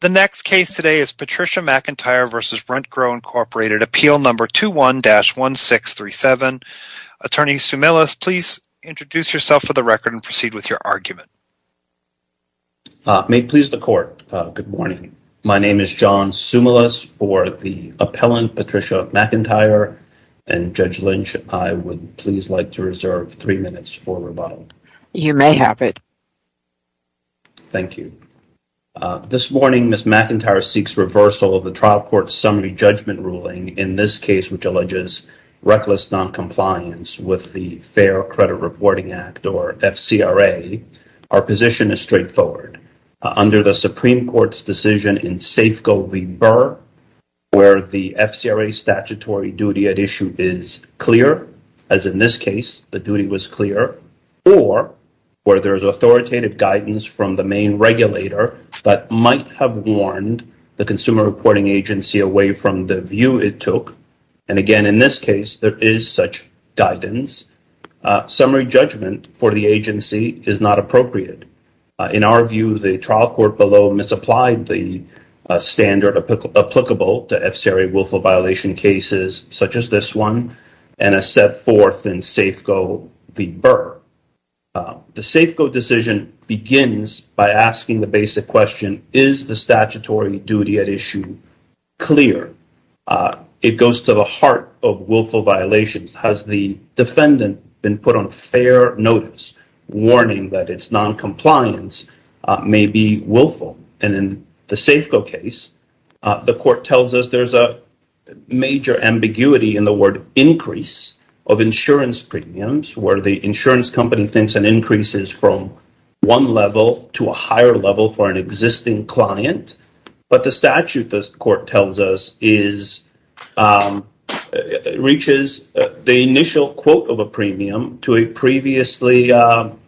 The next case today is Patricia McIntyre v. RentGrow, Inc. Appeal No. 21-1637. Attorney Sumilis, please introduce yourself for the record and proceed with your argument. May it please the Court, good morning. My name is John Sumilis, or the appellant Patricia McIntyre, and Judge Lynch, I would please like to reserve three minutes for rebuttal. You may have it. Thank you. This morning, Ms. McIntyre seeks reversal of the trial court summary judgment ruling, in this case which alleges reckless noncompliance with the Fair Credit Reporting Act, or FCRA. Our position is straightforward. Under the Supreme Court's decision in Safeco v. Burr, where the FCRA statutory duty at issue is clear, as in this case, the duty was clear, or where there is authoritative guidance from the main regulator that might have warned the consumer reporting agency away from the view it took, and, again, in this case, there is such guidance, summary judgment for the agency is not appropriate. In our view, the trial court below misapplied the standard applicable to FCRA willful violation cases, such as this one, and a set forth in Safeco v. Burr. The Safeco decision begins by asking the basic question, is the statutory duty at issue clear? It goes to the heart of willful violations. Has the defendant been put on fair notice, warning that its noncompliance may be willful? In the Safeco case, the court tells us there's a major ambiguity in the word increase of insurance premiums, where the insurance company thinks an increase is from one level to a higher level for an existing client, but the statute, the court tells us, reaches the initial quote of a premium to a client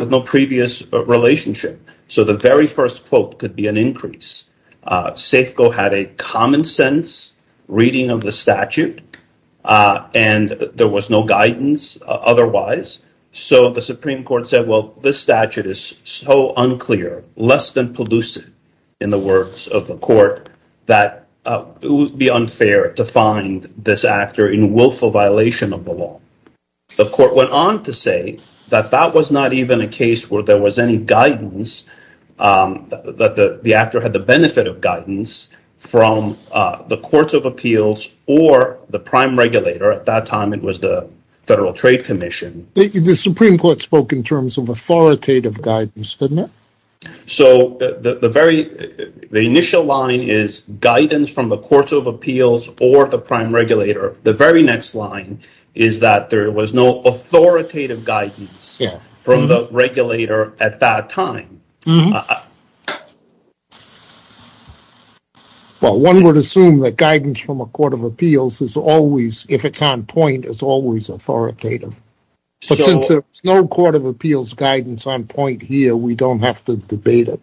with no previous relationship. So the very first quote could be an increase. Safeco had a common sense reading of the statute, and there was no guidance otherwise. So the Supreme Court said, well, this statute is so unclear, less than pellucid in the words of the court, that it would be unfair to find this actor in willful violation of the law. The court went on to say that that was not even a case where there was any guidance, that the actor had the benefit of guidance from the courts of appeals or the prime regulator. At that time, it was the Federal Trade Commission. The Supreme Court spoke in terms of authoritative guidance, didn't it? So the initial line is guidance from the courts of appeals or the prime regulator. The very next line is that there was no authoritative guidance from the regulator at that time. Well, one would assume that guidance from a court of appeals is always, if it's on point, is always authoritative. But since there's no court of appeals guidance on point here, we don't have to debate it.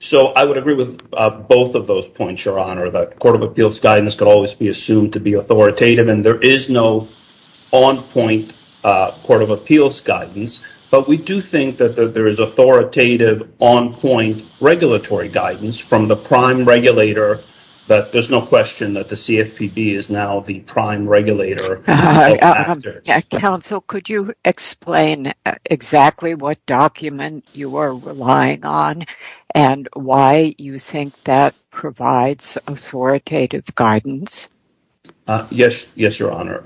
So I would agree with both of those points, Your Honor, that court of appeals guidance could always be assumed to be authoritative and there is no on point court of appeals guidance. But we do think that there is authoritative on point regulatory guidance from the prime regulator. But there's no question that the CFPB is now the prime regulator. Counsel, could you explain exactly what document you are relying on and why you think that provides authoritative guidance? Yes. Yes, Your Honor.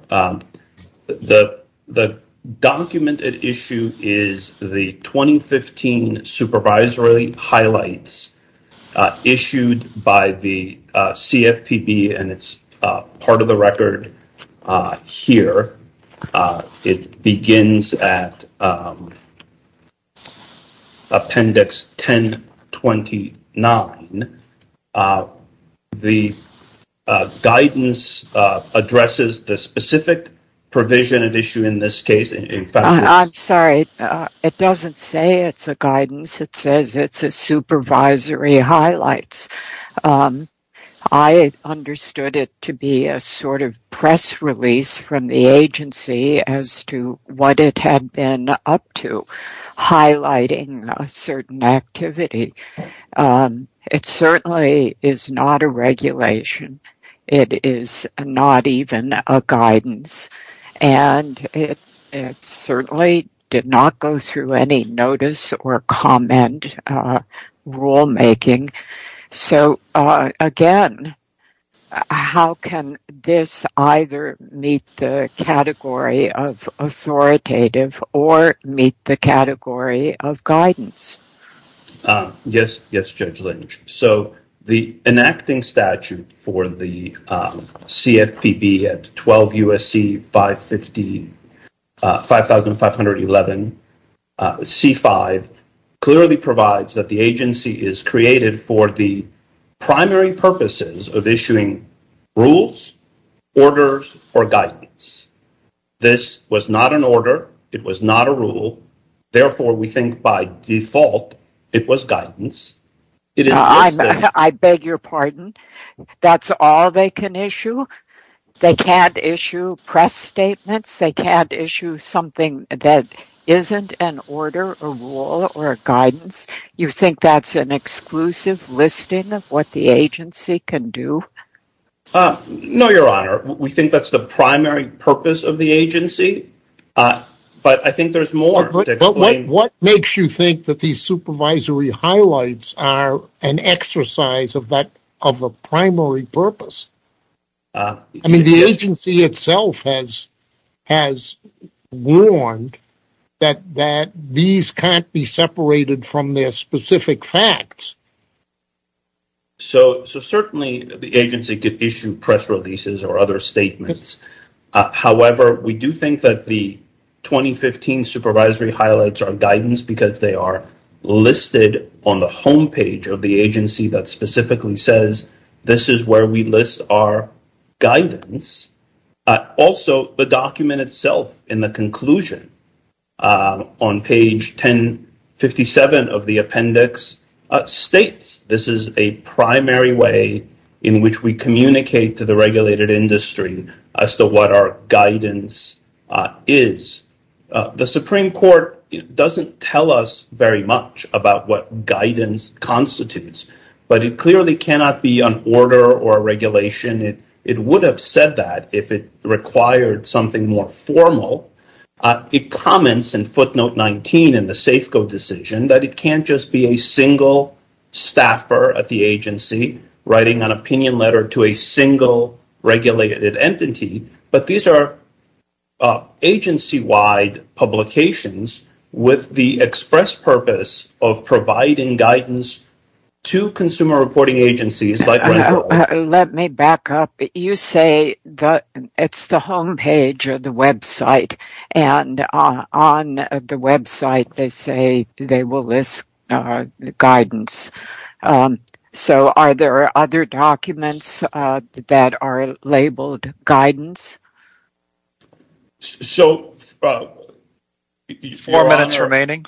The document at issue is the 2015 supervisory highlights issued by the CFPB and it's part of the record here. It begins at Appendix 1029. The guidance addresses the specific provision at issue in this case. I'm sorry. It doesn't say it's a guidance. It says it's a supervisory highlights. I understood it to be a sort of press release from the agency as to what it had been up to highlighting a certain activity. It certainly is not a regulation. It is not even a guidance. And it certainly did not go through any notice or comment rulemaking. So, again, how can this either meet the category of authoritative or meet the category of guidance? Yes. Yes, Judge Lynch. So, the enacting statute for the CFPB at 12 U.S.C. 5511 C-5 clearly provides that the agency is created for the primary purposes of issuing rules, orders, or guidance. This was not an order. It was not a rule. Therefore, we think by default it was guidance. I beg your pardon. That's all they can issue? They can't issue press statements? They can't issue something that isn't an order, a rule, or a guidance? You think that's an exclusive listing of what the agency can do? No, Your Honor. We think that's the primary purpose of the agency. But I think there's more to explain. But what makes you think that these supervisory highlights are an exercise of a primary purpose? I mean, the agency itself has warned that these can't be separated from their specific facts. So, certainly, the agency could issue press releases or other statements. However, we do think that the 2015 supervisory highlights are guidance because they are listed on the homepage of the agency that specifically says this is where we list our guidance. Also, the document itself in the conclusion on page 1057 of the appendix states this is a primary way in which we communicate to the regulated industry as to what our guidance is. The Supreme Court doesn't tell us very much about what guidance constitutes. But it clearly cannot be an order or a regulation. It would have said that if it required something more formal. It comments in footnote 19 in the Safeco decision that it can't just be a single staffer at the agency writing an opinion letter to a single regulated entity. But these are agency-wide publications with the express purpose of providing guidance to consumer reporting agencies. Let me back up. You say it's the homepage of the website. And on the website, they say they will list guidance. So, are there other documents that are labeled guidance? Four minutes remaining.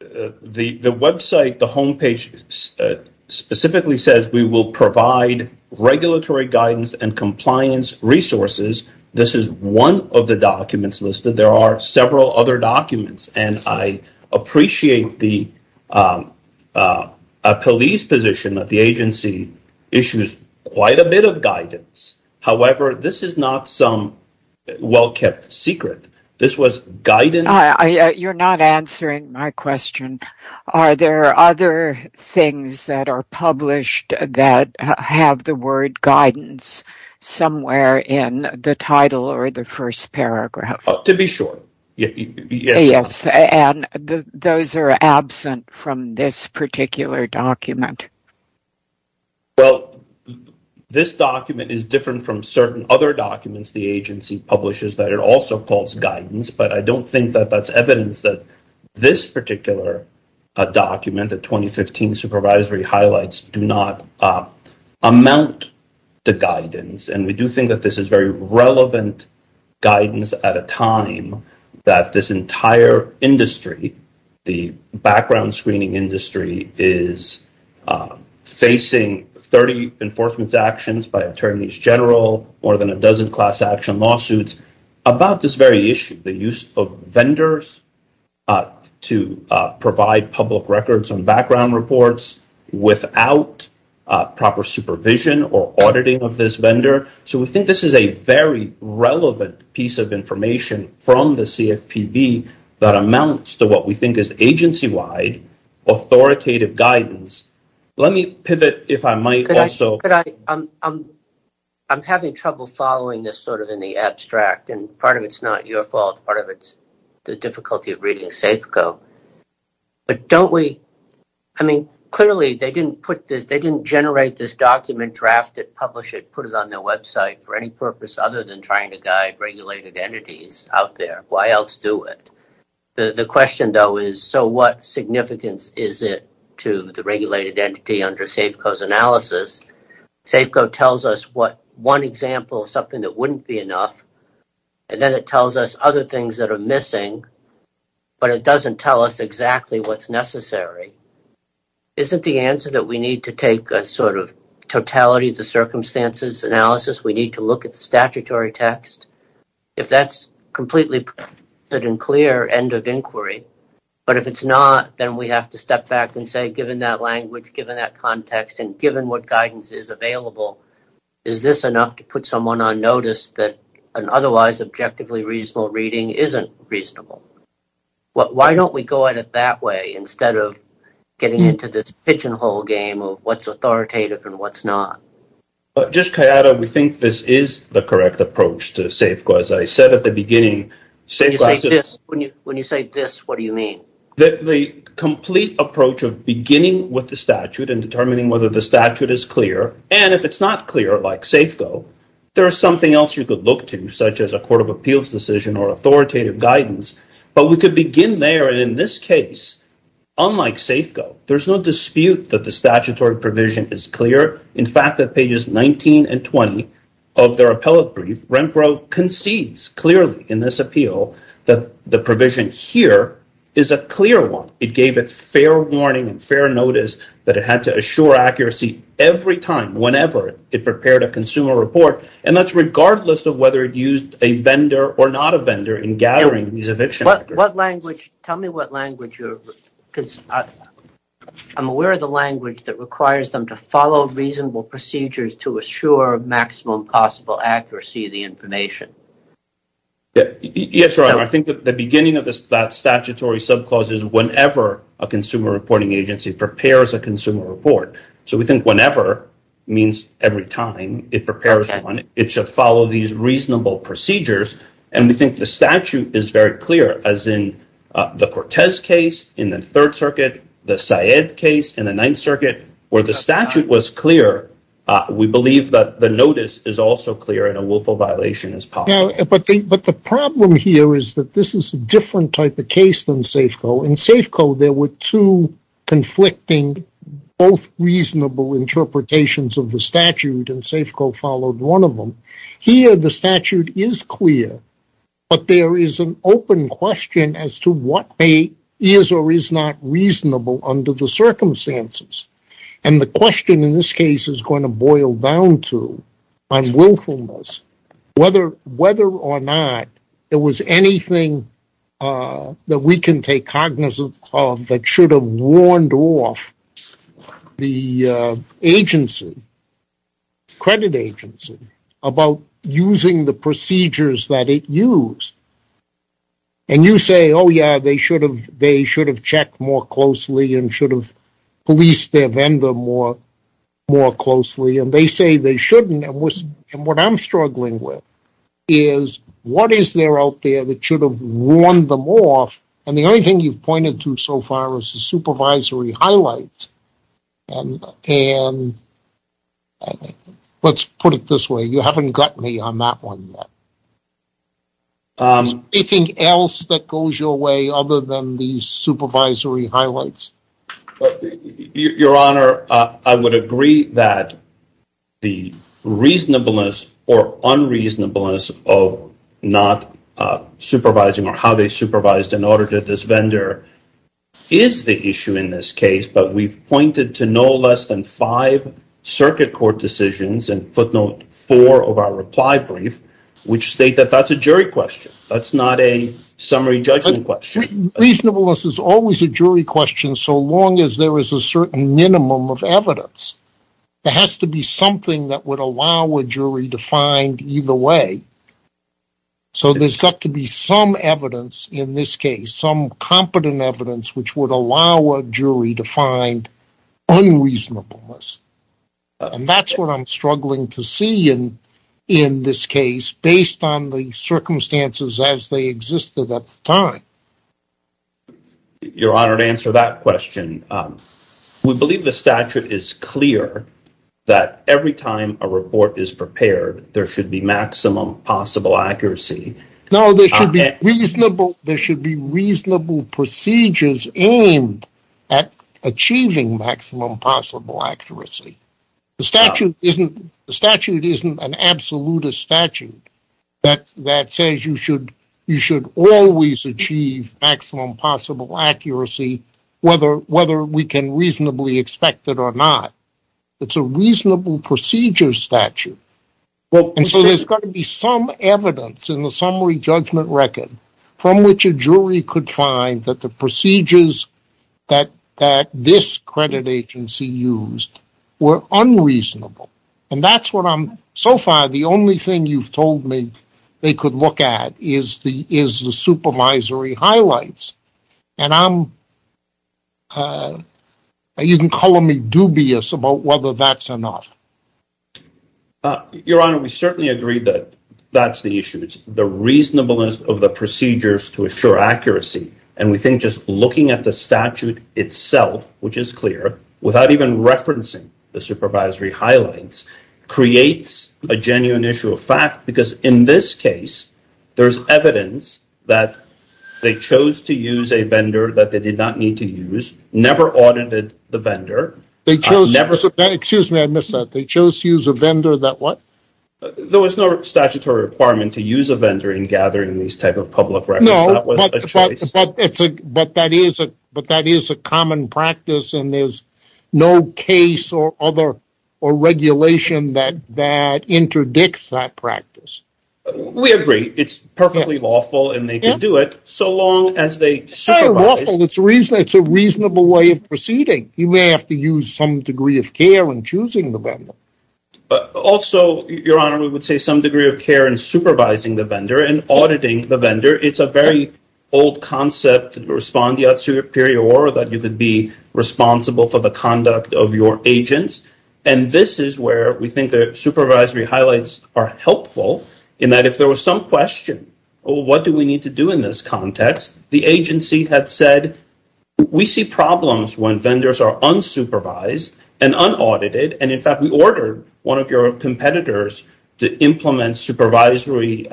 The website, the homepage, specifically says we will provide regulatory guidance and compliance resources. This is one of the documents listed. There are several other documents. And I appreciate the police position that the agency issues quite a bit of guidance. However, this is not some well-kept secret. You're not answering my question. Are there other things that are published that have the word guidance somewhere in the title or the first paragraph? To be sure. And those are absent from this particular document. Well, this document is different from certain other documents the agency publishes that it also calls guidance. But I don't think that that's evidence that this particular document, the 2015 supervisory highlights, do not amount to guidance. And we do think that this is very relevant guidance at a time that this entire industry, the background screening industry, is facing 30 enforcement actions by attorneys general, more than a dozen class action lawsuits about this very issue. The use of vendors to provide public records on background reports without proper supervision or auditing of this vendor. So we think this is a very relevant piece of information from the CFPB that amounts to what we think is agency-wide authoritative guidance. Let me pivot, if I might, also. I'm having trouble following this sort of in the abstract. And part of it's not your fault. Part of it's the difficulty of reading SAFCO. But don't we, I mean, clearly they didn't put this, they didn't generate this document, draft it, publish it, put it on their website for any purpose other than trying to guide regulated entities out there. Why else do it? The question, though, is so what significance is it to the regulated entity under SAFCO's analysis? SAFCO tells us what one example of something that wouldn't be enough. And then it tells us other things that are missing. But it doesn't tell us exactly what's necessary. Isn't the answer that we need to take a sort of totality of the circumstances analysis? We need to look at the statutory text. If that's completely put in clear, end of inquiry. But if it's not, then we have to step back and say, given that language, given that context, and given what guidance is available, is this enough to put someone on notice that an otherwise objectively reasonable reading isn't reasonable? Why don't we go at it that way instead of getting into this pigeonhole game of what's authoritative and what's not? Just Kayada, we think this is the correct approach to SAFCO. As I said at the beginning, when you say this, what do you mean? The complete approach of beginning with the statute and determining whether the statute is clear. And if it's not clear, like SAFCO, there is something else you could look to, such as a court of appeals decision or authoritative guidance. But we could begin there. And in this case, unlike SAFCO, there's no dispute that the statutory provision is clear. In fact, at pages 19 and 20 of their appellate brief, Renfro concedes clearly in this appeal that the provision here is a clear one. It gave it fair warning and fair notice that it had to assure accuracy every time, whenever it prepared a consumer report. And that's regardless of whether it used a vendor or not a vendor in gathering these eviction records. Tell me what language you're – because I'm aware of the language that requires them to follow reasonable procedures to assure maximum possible accuracy of the information. Yes, Your Honor. I think the beginning of that statutory subclause is whenever a consumer reporting agency prepares a consumer report. So we think whenever means every time it prepares one. It should follow these reasonable procedures, and we think the statute is very clear, as in the Cortez case in the Third Circuit, the Syed case in the Ninth Circuit, where the statute was clear. We believe that the notice is also clear and a willful violation is possible. But the problem here is that this is a different type of case than SAFCO. In SAFCO, there were two conflicting, both reasonable interpretations of the statute, and SAFCO followed one of them. Here, the statute is clear, but there is an open question as to what is or is not reasonable under the circumstances. And the question in this case is going to boil down to unwillfulness, whether or not there was anything that we can take cognizance of that should have warned off the agency, credit agency, about using the procedures that it used. And you say, oh yeah, they should have checked more closely and should have policed their vendor more closely. And they say they shouldn't, and what I'm struggling with is what is there out there that should have warned them off? And the only thing you've pointed to so far is the supervisory highlights. And let's put it this way, you haven't got me on that one yet. Is there anything else that goes your way other than these supervisory highlights? Your Honor, I would agree that the reasonableness or unreasonableness of not supervising or how they supervised in order to this vendor is the issue in this case. But we've pointed to no less than five circuit court decisions and footnote four of our reply brief, which state that that's a jury question. That's not a summary judgment question. Reasonableness is always a jury question so long as there is a certain minimum of evidence. There has to be something that would allow a jury to find either way. So there's got to be some evidence in this case, some competent evidence, which would allow a jury to find unreasonableness. And that's what I'm struggling to see in this case based on the circumstances as they existed at the time. Your Honor, to answer that question, we believe the statute is clear that every time a report is prepared, there should be maximum possible accuracy. No, there should be reasonable procedures aimed at achieving maximum possible accuracy. The statute isn't an absolutist statute that says you should always achieve maximum possible accuracy, whether we can reasonably expect it or not. It's a reasonable procedure statute. And so there's got to be some evidence in the summary judgment record from which a jury could find that the procedures that this credit agency used were unreasonable. And that's what I'm, so far, the only thing you've told me they could look at is the supervisory highlights. And I'm, you can call me dubious about whether that's enough. Your Honor, we certainly agree that that's the issue. It's the reasonableness of the procedures to assure accuracy. And we think just looking at the statute itself, which is clear, without even referencing the supervisory highlights, creates a genuine issue of fact. Because in this case, there's evidence that they chose to use a vendor that they did not need to use, never audited the vendor. Excuse me, I missed that. They chose to use a vendor that what? There was no statutory requirement to use a vendor in gathering these type of public records. No, but that is a common practice, and there's no case or other regulation that interdicts that practice. We agree. It's perfectly lawful, and they can do it so long as they supervise. It's not lawful. It's a reasonable way of proceeding. You may have to use some degree of care in choosing the vendor. Also, Your Honor, we would say some degree of care in supervising the vendor and auditing the vendor. It's a very old concept, respondeat superior, that you could be responsible for the conduct of your agents. And this is where we think the supervisory highlights are helpful, in that if there was some question, what do we need to do in this context, the agency had said, we see problems when vendors are unsupervised and unaudited, and in fact we ordered one of your competitors to implement supervisory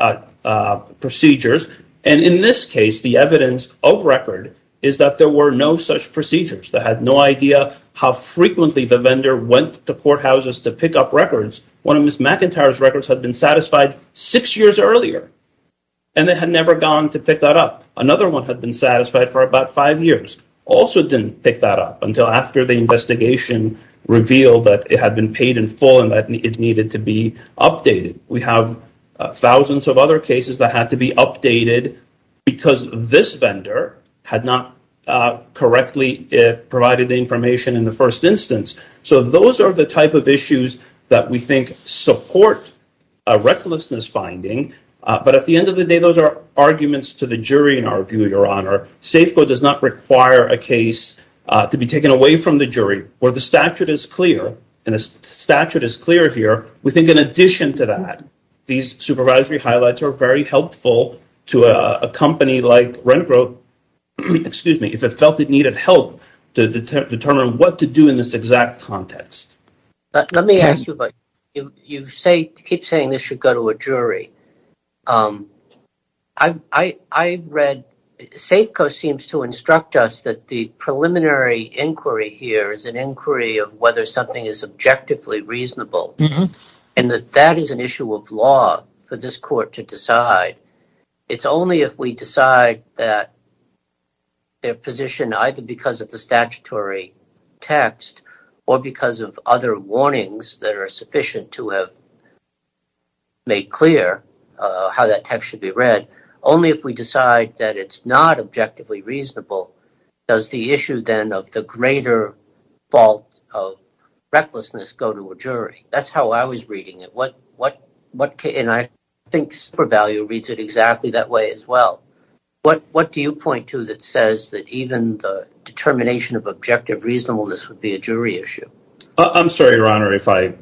procedures. And in this case, the evidence of record is that there were no such procedures. They had no idea how frequently the vendor went to courthouses to pick up records. One of Ms. McIntyre's records had been satisfied six years earlier, and they had never gone to pick that up. Another one had been satisfied for about five years. Also didn't pick that up until after the investigation revealed that it had been paid in full and that it needed to be updated. We have thousands of other cases that had to be updated because this vendor had not correctly provided the information in the first instance. So those are the type of issues that we think support a recklessness finding. But at the end of the day, those are arguments to the jury in our view, Your Honor. Safeco does not require a case to be taken away from the jury. Where the statute is clear, and the statute is clear here, we think in addition to that, these supervisory highlights are very helpful to a company like Renfro, excuse me, if it felt it needed help to determine what to do in this exact context. Let me ask you, you keep saying this should go to a jury. Safeco seems to instruct us that the preliminary inquiry here is an inquiry of whether something is objectively reasonable, and that that is an issue of law for this court to decide. It's only if we decide that their position, either because of the statutory text or because of other warnings that are sufficient to have made clear how that text should be read, only if we decide that it's not objectively reasonable, does the issue then of the greater fault of recklessness go to a jury. That's how I was reading it. And I think SuperValue reads it exactly that way as well. What do you point to that says that even the determination of objective reasonableness would be a jury issue? I'm sorry, Your Honor, if I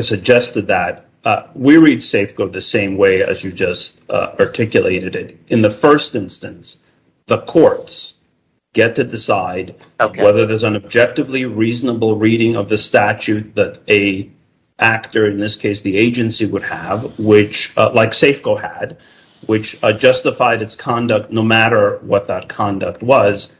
suggested that. We read Safeco the same way as you just articulated it. In the first instance, the courts get to decide whether there's an objectively reasonable reading of the statute that a actor, in this case the agency, would have, like Safeco had, which justified its conduct no matter what that conduct was.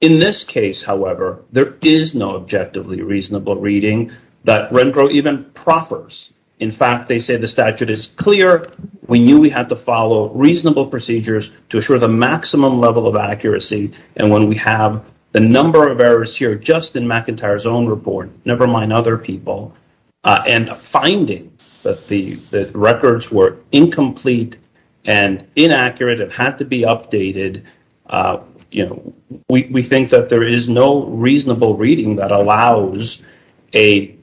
In this case, however, there is no objectively reasonable reading that Renfro even proffers. In fact, they say the statute is clear. We knew we had to follow reasonable procedures to assure the maximum level of accuracy. And when we have the number of errors here just in McIntyre's own report, never mind other people, and a finding that the records were incomplete and inaccurate and had to be updated, we think that there is no reasonable reading that allows an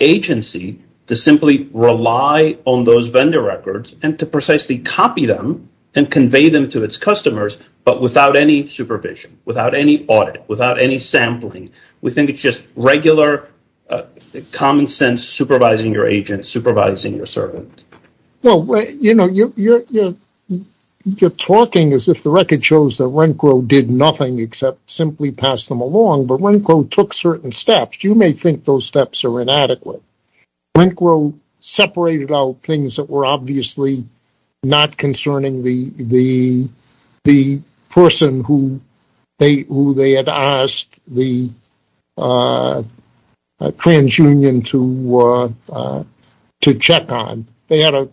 agency to simply rely on those vendor records and to precisely copy them and convey them to its customers, but without any supervision, without any audit, without any sampling. We think it's just regular common sense supervising your agent, supervising your servant. You're talking as if the record shows that Renfro did nothing except simply pass them along, but Renfro took certain steps. You may think those steps are inadequate. Renfro separated out things that were obviously not concerning the person who they had asked the trans union to check on. They had a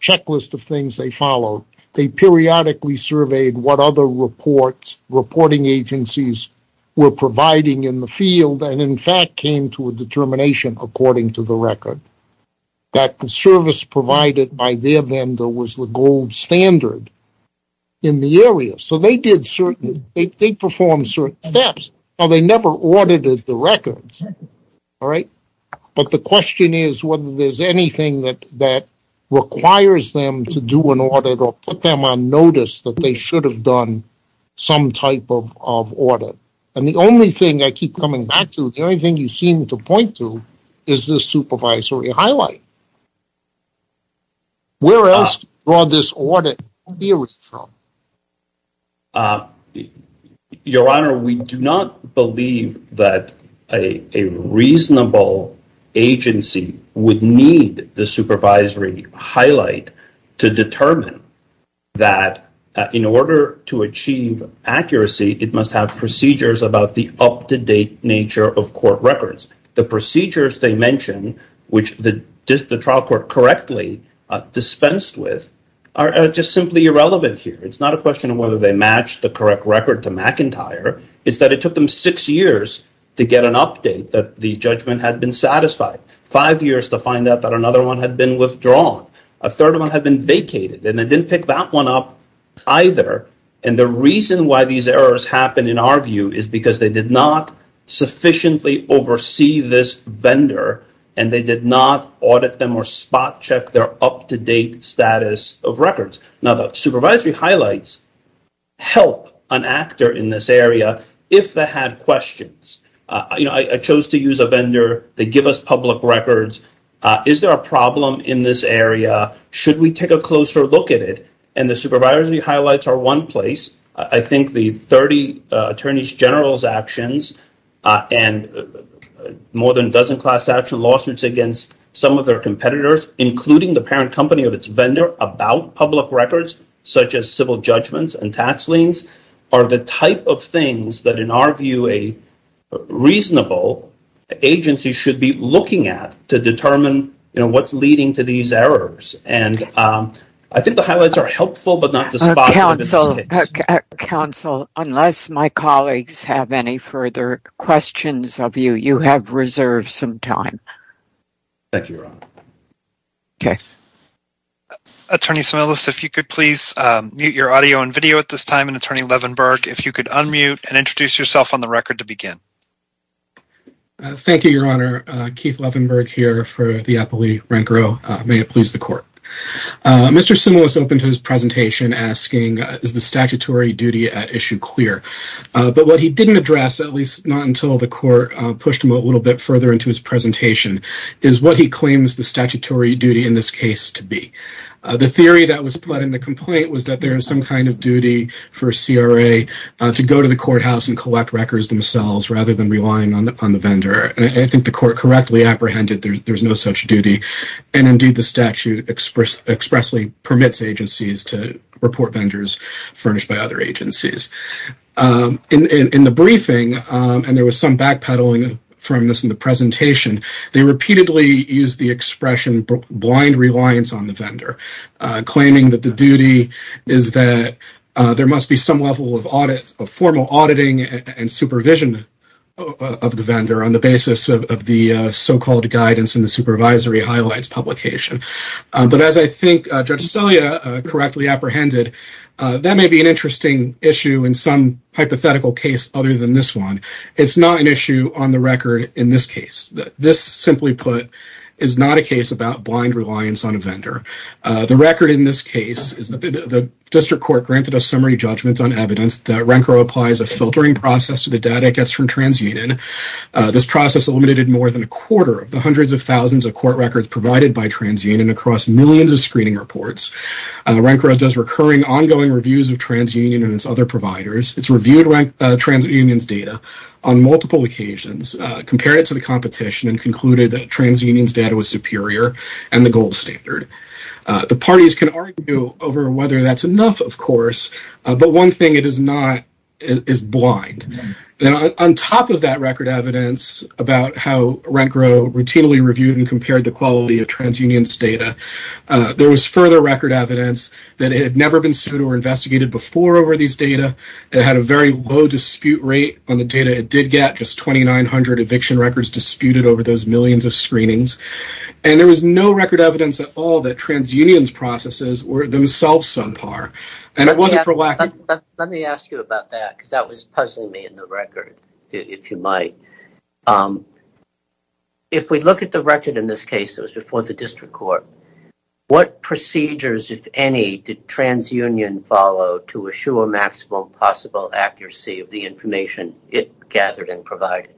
checklist of things they followed. They periodically surveyed what other reporting agencies were providing in the field and, in fact, came to a determination according to the record that the service provided by their vendor was the gold standard in the area. So they performed certain steps. They never audited the records, but the question is whether there's anything that requires them to do an audit or put them on notice that they should have done some type of audit. And the only thing I keep coming back to, the only thing you seem to point to, is this supervisory highlight. Where else do you draw this audit theory from? Your Honor, we do not believe that a reasonable agency would need the supervisory highlight to determine that in order to achieve accuracy, it must have procedures about the up-to-date nature of court records. The procedures they mentioned, which the trial court correctly dispensed with, are just simply irrelevant here. It's not a question of whether they matched the correct record to McIntyre. It's that it took them six years to get an update that the judgment had been satisfied. Five years to find out that another one had been withdrawn. A third one had been vacated, and they didn't pick that one up either. And the reason why these errors happen, in our view, is because they did not sufficiently oversee this vendor, and they did not audit them or spot check their up-to-date status of records. Now, the supervisory highlights help an actor in this area if they had questions. I chose to use a vendor. They give us public records. Is there a problem in this area? Should we take a closer look at it? And the supervisory highlights are one place. I think the 30 attorneys general's actions and more than a dozen class action lawsuits against some of their competitors, including the parent company of its vendor, about public records, such as civil judgments and tax liens, are the type of things that, in our view, a reasonable agency should be looking at to determine what's leading to these errors. And I think the highlights are helpful, but not the spots. Counsel, unless my colleagues have any further questions of you, you have reserved some time. Thank you, Your Honor. Okay. Attorney Semelis, if you could please mute your audio and video at this time, and Attorney Levenberg, if you could unmute and introduce yourself on the record to begin. Thank you, Your Honor. Keith Levenberg here for the appellee, Rent Grille. May it please the Court. Mr. Semelis opened his presentation asking, is the statutory duty at issue clear? But what he didn't address, at least not until the Court pushed him a little bit further into his presentation, is what he claims the statutory duty in this case to be. The theory that was put in the complaint was that there is some kind of duty for CRA to go to the courthouse and collect records themselves rather than relying on the vendor. And I think the Court correctly apprehended there's no such duty, and indeed the statute expressly permits agencies to report vendors furnished by other agencies. In the briefing, and there was some backpedaling from this in the presentation, they repeatedly used the expression blind reliance on the vendor, claiming that the duty is that there must be some level of formal auditing and supervision of the vendor on the basis of the so-called guidance in the supervisory highlights publication. But as I think Judge Estella correctly apprehended, that may be an interesting issue in some hypothetical case other than this one. It's not an issue on the record in this case. This, simply put, is not a case about blind reliance on a vendor. The record in this case is that the district court granted a summary judgment on evidence that RENCRO applies a filtering process to the data it gets from TransUnion. This process eliminated more than a quarter of the hundreds of thousands of court records provided by TransUnion across millions of screening reports. RENCRO does recurring, ongoing reviews of TransUnion and its other providers. It's reviewed TransUnion's data on multiple occasions, compared it to the competition, and concluded that TransUnion's data was superior and the gold standard. The parties can argue over whether that's enough, of course, but one thing it is not is blind. On top of that record evidence about how RENCRO routinely reviewed and compared the quality of TransUnion's data, there was further record evidence that it had never been sued or investigated before over these data. It had a very low dispute rate on the data it did get, just 2,900 eviction records disputed over those millions of screenings. And there was no record evidence at all that TransUnion's processes were themselves subpar. Let me ask you about that because that was puzzling me in the record, if you might. If we look at the record in this case, it was before the district court, what procedures, if any, did TransUnion follow to assure maximum possible accuracy of the information it gathered and provided?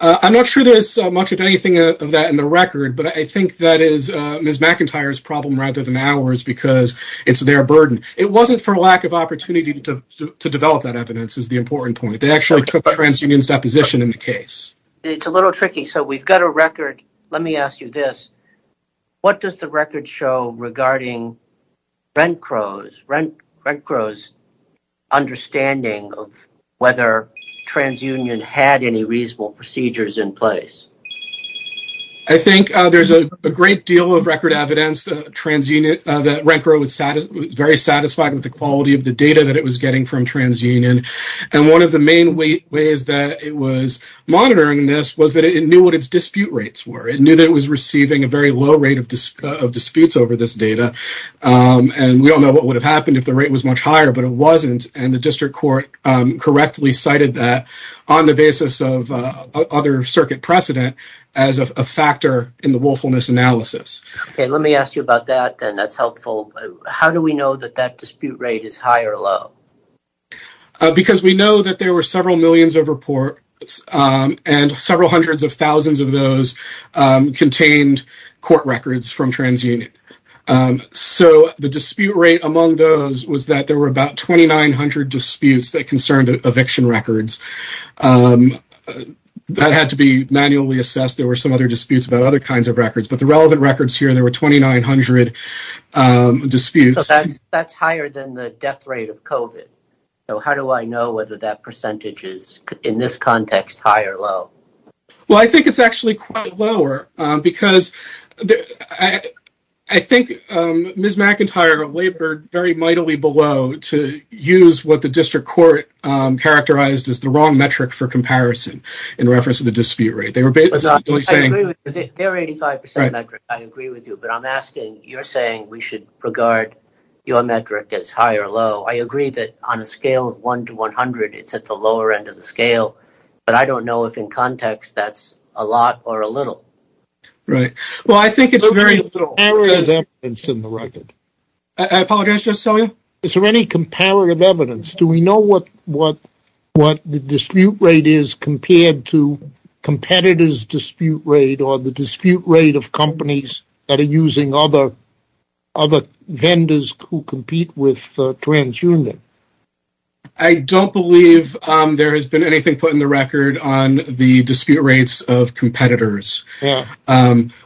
I'm not sure there's much of anything of that in the record, but I think that is Ms. McIntyre's problem rather than ours because it's their burden. It wasn't for lack of opportunity to develop that evidence is the important point. They actually took TransUnion's deposition in the case. It's a little tricky, so we've got a record. Let me ask you this. What does the record show regarding RENCRO's understanding of whether TransUnion had any reasonable procedures in place? I think there's a great deal of record evidence that RENCRO was very satisfied with the quality of the data that it was getting from TransUnion. And one of the main ways that it was monitoring this was that it knew what its dispute rates were. It knew that it was receiving a very low rate of disputes over this data. And we all know what would have happened if the rate was much higher, but it wasn't. And the district court correctly cited that on the basis of other circuit precedent as a factor in the willfulness analysis. Let me ask you about that, and that's helpful. How do we know that that dispute rate is high or low? Because we know that there were several millions of reports and several hundreds of thousands of those contained court records from TransUnion. So the dispute rate among those was that there were about 2,900 disputes that concerned eviction records. That had to be manually assessed. There were some other disputes about other kinds of records. But the relevant records here, there were 2,900 disputes. So that's higher than the death rate of COVID. So how do I know whether that percentage is, in this context, high or low? Well, I think it's actually quite lower. Because I think Ms. McIntyre labored very mightily below to use what the district court characterized as the wrong metric for comparison in reference to the dispute rate. I agree with you, but I'm asking, you're saying we should regard your metric as high or low. I agree that on a scale of 1 to 100, it's at the lower end of the scale. But I don't know if, in context, that's a lot or a little. Right. Well, I think it's very little. Is there any comparative evidence in the record? I apologize. Just tell me. Is there any comparative evidence? Do we know what the dispute rate is compared to competitors' dispute rate or the dispute rate of companies that are using other vendors who compete with TransUnion? I don't believe there has been anything put in the record on the dispute rates of competitors.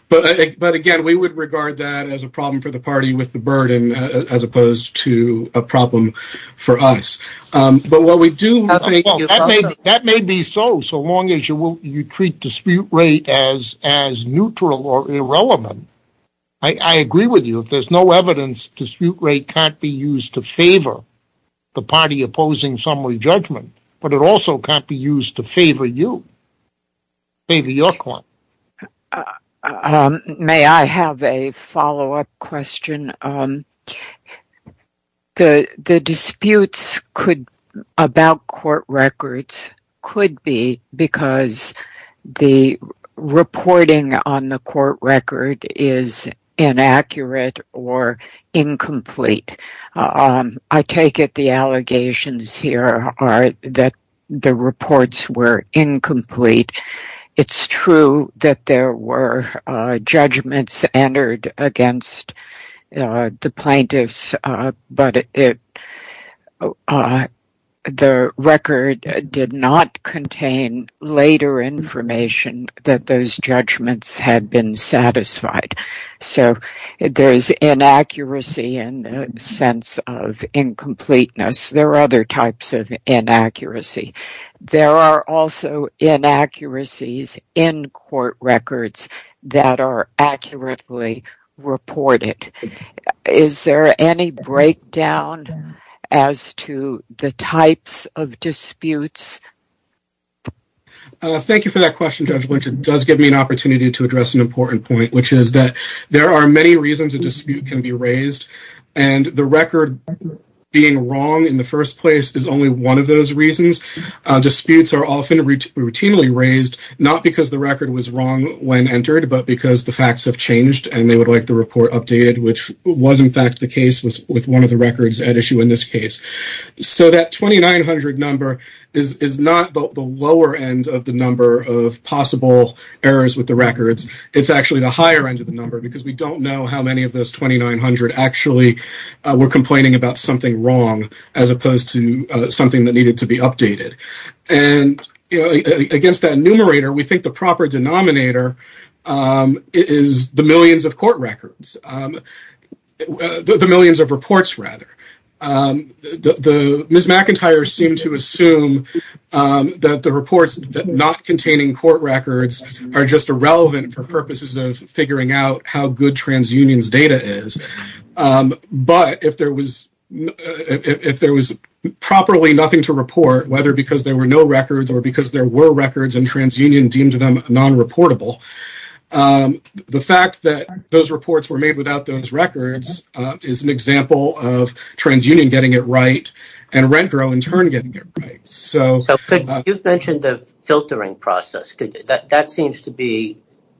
But, again, we would regard that as a problem for the party with the burden as opposed to a problem for us. But what we do... That may be so, so long as you treat dispute rate as neutral or irrelevant. I agree with you. If there's no evidence, dispute rate can't be used to favor the party opposing summary judgment, but it also can't be used to favor you, favor your client. May I have a follow-up question? The disputes about court records could be because the reporting on the court record is inaccurate or incomplete. I take it the allegations here are that the reports were incomplete. It's true that there were judgments entered against the plaintiffs, but the record did not contain later information that those judgments had been satisfied. So there's inaccuracy in the sense of incompleteness. There are other types of inaccuracy. There are also inaccuracies in court records that are accurately reported. Is there any breakdown as to the types of disputes? Thank you for that question, Judge Lynch. It does give me an opportunity to address an important point, which is that there are many reasons a dispute can be raised, and the record being wrong in the first place is only one of those reasons. Disputes are often routinely raised, not because the record was wrong when entered, but because the facts have changed and they would like the report updated, which was in fact the case with one of the records at issue in this case. So that 2900 number is not the lower end of the number of possible errors with the records. It's actually the higher end of the number, because we don't know how many of those 2900 actually were complaining about something wrong, as opposed to something that needed to be updated. And against that numerator, we think the proper denominator is the millions of court records, the millions of reports, rather. Ms. McIntyre seemed to assume that the reports not containing court records are just irrelevant for purposes of figuring out how good TransUnion's data is. But if there was properly nothing to report, whether because there were no records or because there were records and TransUnion deemed them non-reportable, the fact that those reports were made without those records is an example of TransUnion getting it right and RentGrow in turn getting it right. You've mentioned the filtering process. That seems to be,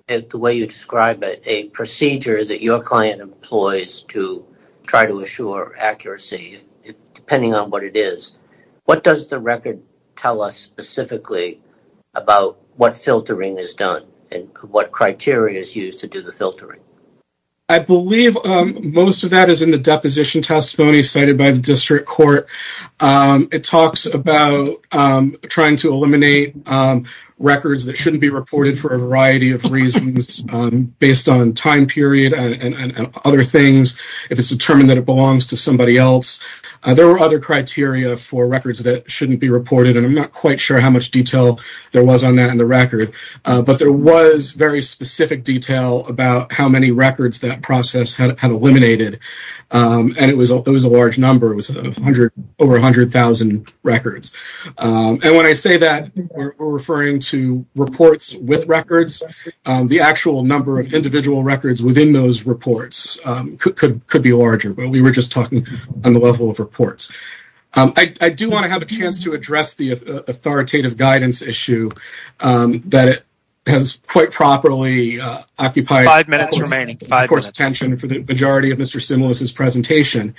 the way you describe it, a procedure that your client employs to try to assure accuracy, depending on what it is. What does the record tell us specifically about what filtering is done and what criteria is used to do the filtering? I believe most of that is in the deposition testimony cited by the district court. It talks about trying to eliminate records that shouldn't be reported for a variety of reasons based on time period and other things, if it's determined that it belongs to somebody else. There are other criteria for records that shouldn't be reported, and I'm not quite sure how much detail there was on that in the record. But there was very specific detail about how many records that process had eliminated. It was a large number, over 100,000 records. When I say that, we're referring to reports with records. The actual number of individual records within those reports could be larger, but we were just talking on the level of reports. I do want to have a chance to address the authoritative guidance issue that has quite properly occupied the court's attention for the majority of Mr. Similis's presentation.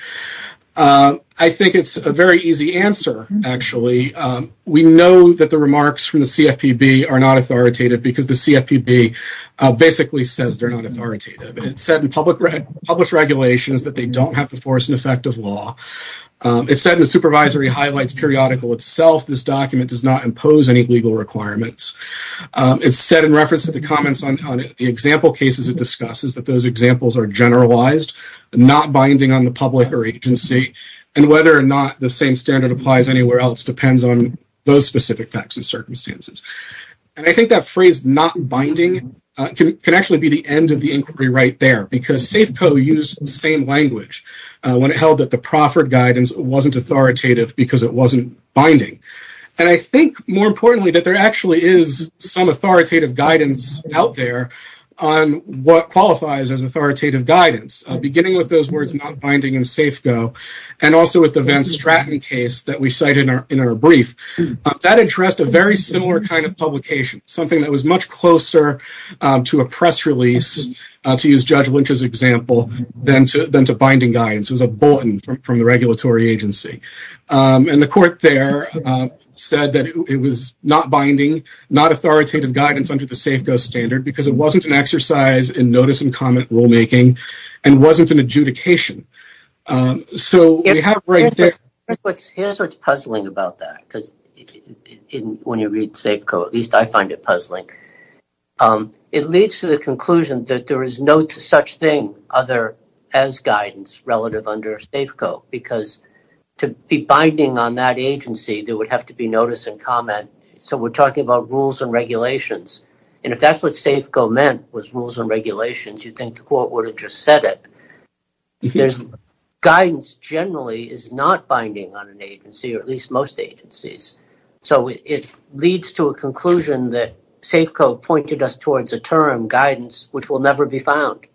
I think it's a very easy answer, actually. We know that the remarks from the CFPB are not authoritative because the CFPB basically says they're not authoritative. It said in published regulations that they don't have the force and effect of law. It said in the supervisory highlights periodical itself, this document does not impose any legal requirements. It said in reference to the comments on the example cases it discusses that those examples are generalized, not binding on the public or agency, and whether or not the same standard applies anywhere else depends on those specific facts and circumstances. And I think that phrase, not binding, can actually be the end of the inquiry right there because SAFEco used the same language when it held that the proffered guidance wasn't authoritative because it wasn't binding. And I think, more importantly, that there actually is some authoritative guidance out there on what qualifies as authoritative guidance, beginning with those words not binding in SAFEco and also with the Van Stratten case that we cited in our brief. That addressed a very similar kind of publication, something that was much closer to a press release, to use Judge Lynch's example, than to binding guidance. It was a bulletin from the regulatory agency. And the court there said that it was not binding, not authoritative guidance under the SAFEco standard because it wasn't an exercise in notice and comment rulemaking and wasn't an adjudication. Here's what's puzzling about that, because when you read SAFEco, at least I find it puzzling. It leads to the conclusion that there is no such thing as guidance relative under SAFEco because to be binding on that agency, there would have to be notice and comment. So we're talking about rules and regulations. And if that's what SAFEco meant, was rules and regulations, you'd think the court would have just said it. Guidance generally is not binding on an agency, or at least most agencies. So it leads to a conclusion that SAFEco pointed us towards a term, guidance, which will never be found.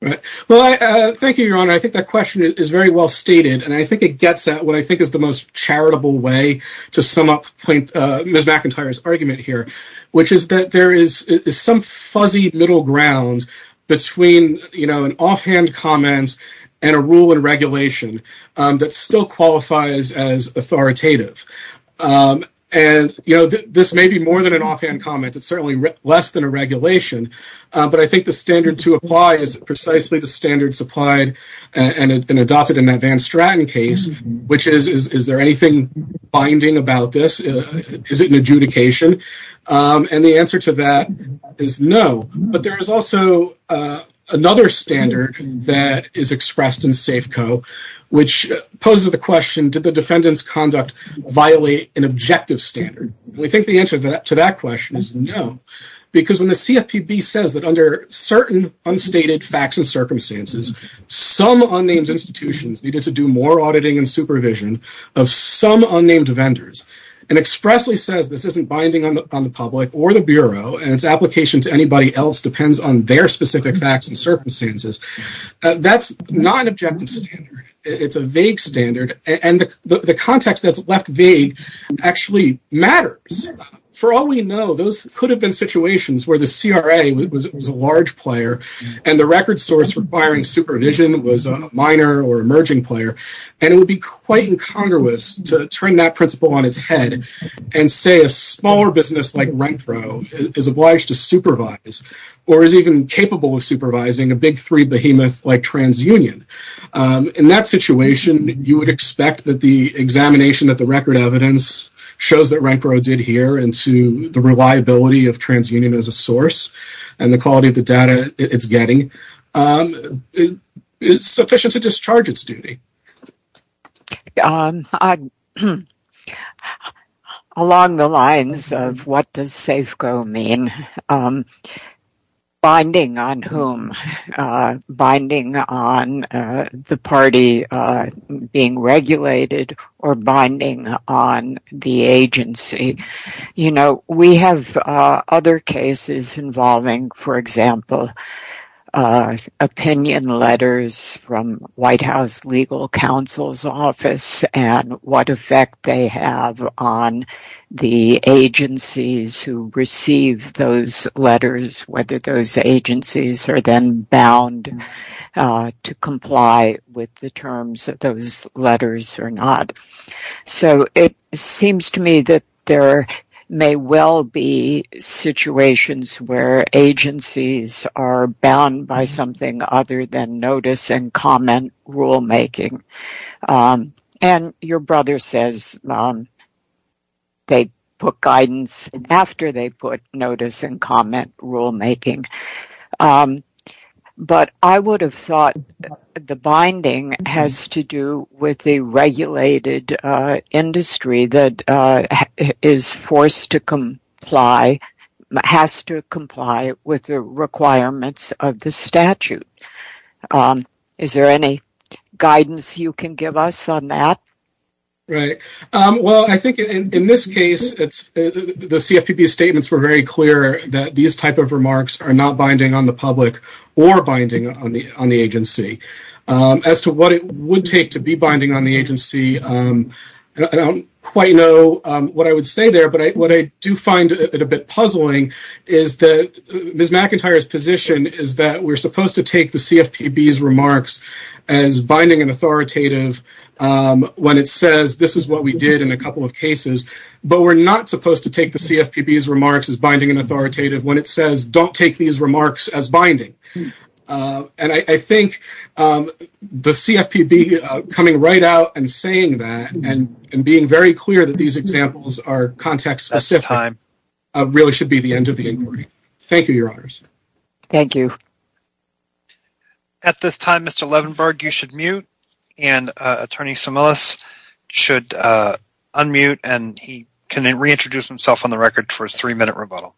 Thank you, Your Honor. I think that question is very well stated, and I think it gets at what I think is the most charitable way to sum up Ms. McIntyre's argument here, which is that there is some fuzzy middle ground between an offhand comment and a rule and regulation that still qualifies as authoritative. And this may be more than an offhand comment. It's certainly less than a regulation. But I think the standard to apply is precisely the standard supplied and adopted in that Van Straten case, which is, is there anything binding about this? Is it an adjudication? And the answer to that is no. But there is also another standard that is expressed in SAFEco, which poses the question, did the defendant's conduct violate an objective standard? And we think the answer to that question is no, because when the CFPB says that under certain unstated facts and circumstances, some unnamed institutions needed to do more auditing and supervision of some unnamed vendors and expressly says this isn't binding on the public or the Bureau and its application to anybody else depends on their specific facts and circumstances, that's not an objective standard. It's a vague standard. And the context that's left vague actually matters. For all we know, those could have been situations where the CRA was a large player and the record source requiring supervision was a minor or emerging player, and it would be quite incongruous to turn that principle on its head and say a smaller business like Renfro is obliged to supervise or is even capable of supervising a big three behemoth like TransUnion. In that situation, you would expect that the examination that the record evidence shows that Renfro did here and to the reliability of TransUnion as a source and the quality of the data it's getting is sufficient to discharge its duty. Along the lines of what does SAFEco mean, binding on whom? Binding on the party being regulated or binding on the agency? We have other cases involving, for example, opinion letters from White House legal counsel's office and what effect they have on the agencies who receive those letters, whether those agencies are then bound to comply with the terms of those letters or not. So it seems to me that there may well be situations where agencies are bound by something other than notice and comment rulemaking. And your brother says they put guidance after they put notice and comment rulemaking. But I would have thought the binding has to do with the regulated industry that is forced to comply, has to comply with the requirements of the statute. Is there any guidance you can give us on that? Well, I think in this case, the CFPB's statements were very clear that these type of remarks are not binding on the public or binding on the agency. As to what it would take to be binding on the agency, I don't quite know what I would say there, but what I do find a bit puzzling is that Ms. McIntyre's position is that we're supposed to take the CFPB's remarks as binding and authoritative when it says this is what we did in a couple of cases, but we're not supposed to take the CFPB's remarks as binding and authoritative when it says don't take these remarks as binding. And I think the CFPB coming right out and saying that and being very clear that these examples are context-specific really should be the end of the inquiry. Thank you, Your Honors. Thank you. At this time, Mr. Levenberg, you should mute, and Attorney Sumilis should unmute, and he can reintroduce himself on the record for his three-minute rebuttal.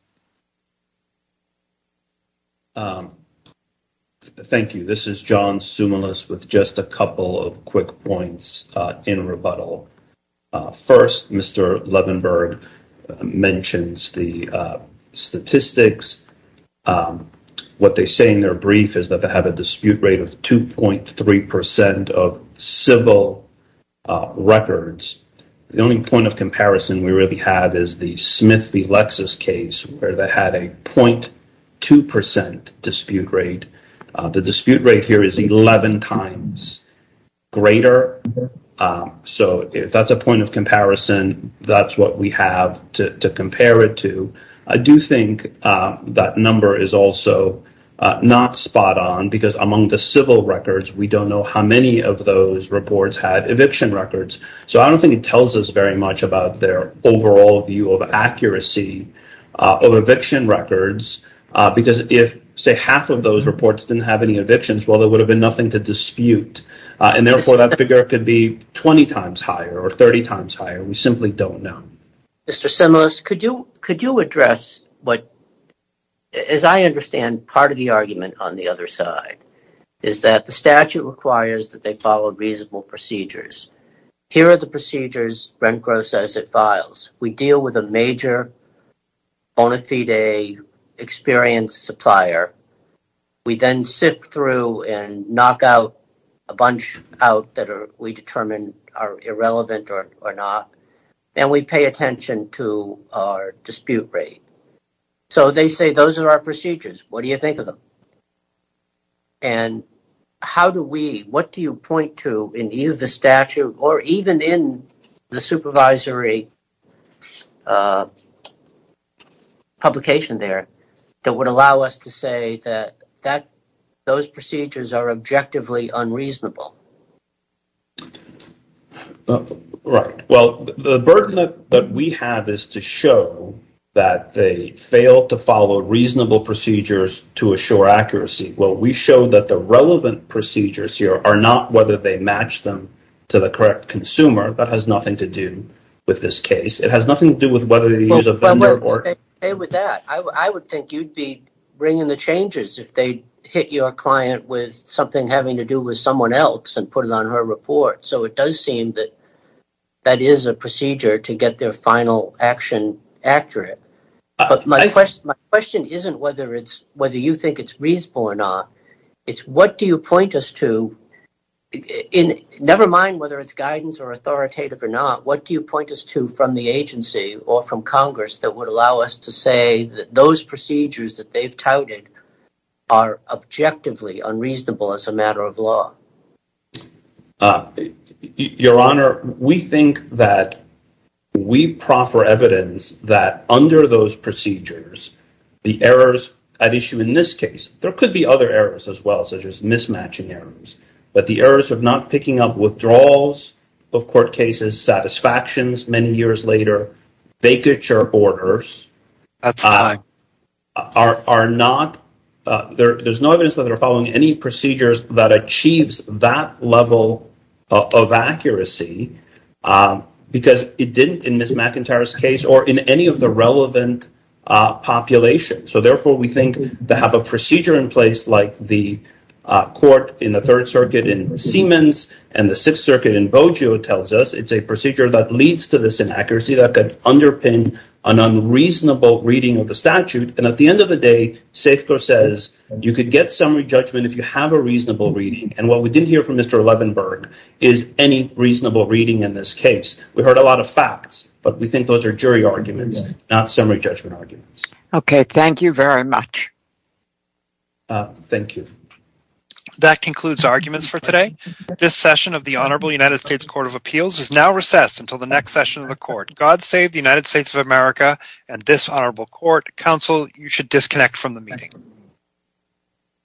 Thank you. This is John Sumilis with just a couple of quick points in rebuttal. First, Mr. Levenberg mentions the statistics. What they say in their brief is that they have a dispute rate of 2.3% of civil records. The only point of comparison we really have is the Smith v. Lexis case, where they had a 0.2% dispute rate. The dispute rate here is 11 times greater. So if that's a point of comparison, that's what we have to compare it to. I do think that number is also not spot-on, because among the civil records, we don't know how many of those reports had eviction records. So I don't think it tells us very much about their overall view of accuracy of eviction records, because if, say, half of those reports didn't have any evictions, well, there would have been nothing to dispute, and therefore that figure could be 20 times higher or 30 times higher. We simply don't know. Mr. Sumilis, could you address what, as I understand, part of the argument on the other side, is that the statute requires that they follow reasonable procedures. Here are the procedures Rencro says it files. We deal with a major bona fide experienced supplier. We then sift through and knock out a bunch out that we determine are irrelevant or not, and we pay attention to our dispute rate. So they say those are our procedures. What do you think of them? And what do you point to in either the statute or even in the supervisory publication there that would allow us to say that those procedures are objectively unreasonable? Right. Well, the burden that we have is to show that they fail to follow reasonable procedures to assure accuracy. Well, we show that the relevant procedures here are not whether they match them to the correct consumer. That has nothing to do with this case. It has nothing to do with whether they use a vendor or not. Stay with that. I would think you'd be bringing the changes if they hit your client with something having to do with someone else and put it on her report. So it does seem that that is a procedure to get their final action accurate. But my question isn't whether you think it's reasonable or not. It's what do you point us to, never mind whether it's guidance or authoritative or not, what do you point us to from the agency or from Congress that would allow us to say that those procedures that they've touted are objectively unreasonable as a matter of law? Your Honor, we think that we proffer evidence that under those procedures, the errors at issue in this case, there could be other errors as well, such as mismatching errors, but the errors of not picking up withdrawals of court cases, satisfactions many years later, vacature orders, there's no evidence that they're following any procedures that achieves that level of accuracy because it didn't in Ms. McIntyre's case or in any of the relevant populations. So therefore, we think to have a procedure in place like the court in the Third Circuit in Siemens and the Sixth Circuit in Boggio tells us it's a procedure that leads to this inaccuracy that could underpin an unreasonable reading of the statute. And at the end of the day, SAFCO says you could get summary judgment if you have a reasonable reading. And what we didn't hear from Mr. Levenberg is any reasonable reading in this case. We heard a lot of facts, but we think those are jury arguments, not summary judgment arguments. Okay, thank you very much. Thank you. That concludes arguments for today. This session of the Honorable United States Court of Appeals is now recessed until the next session of the court. God save the United States of America and this honorable court. Counsel, you should disconnect from the meeting.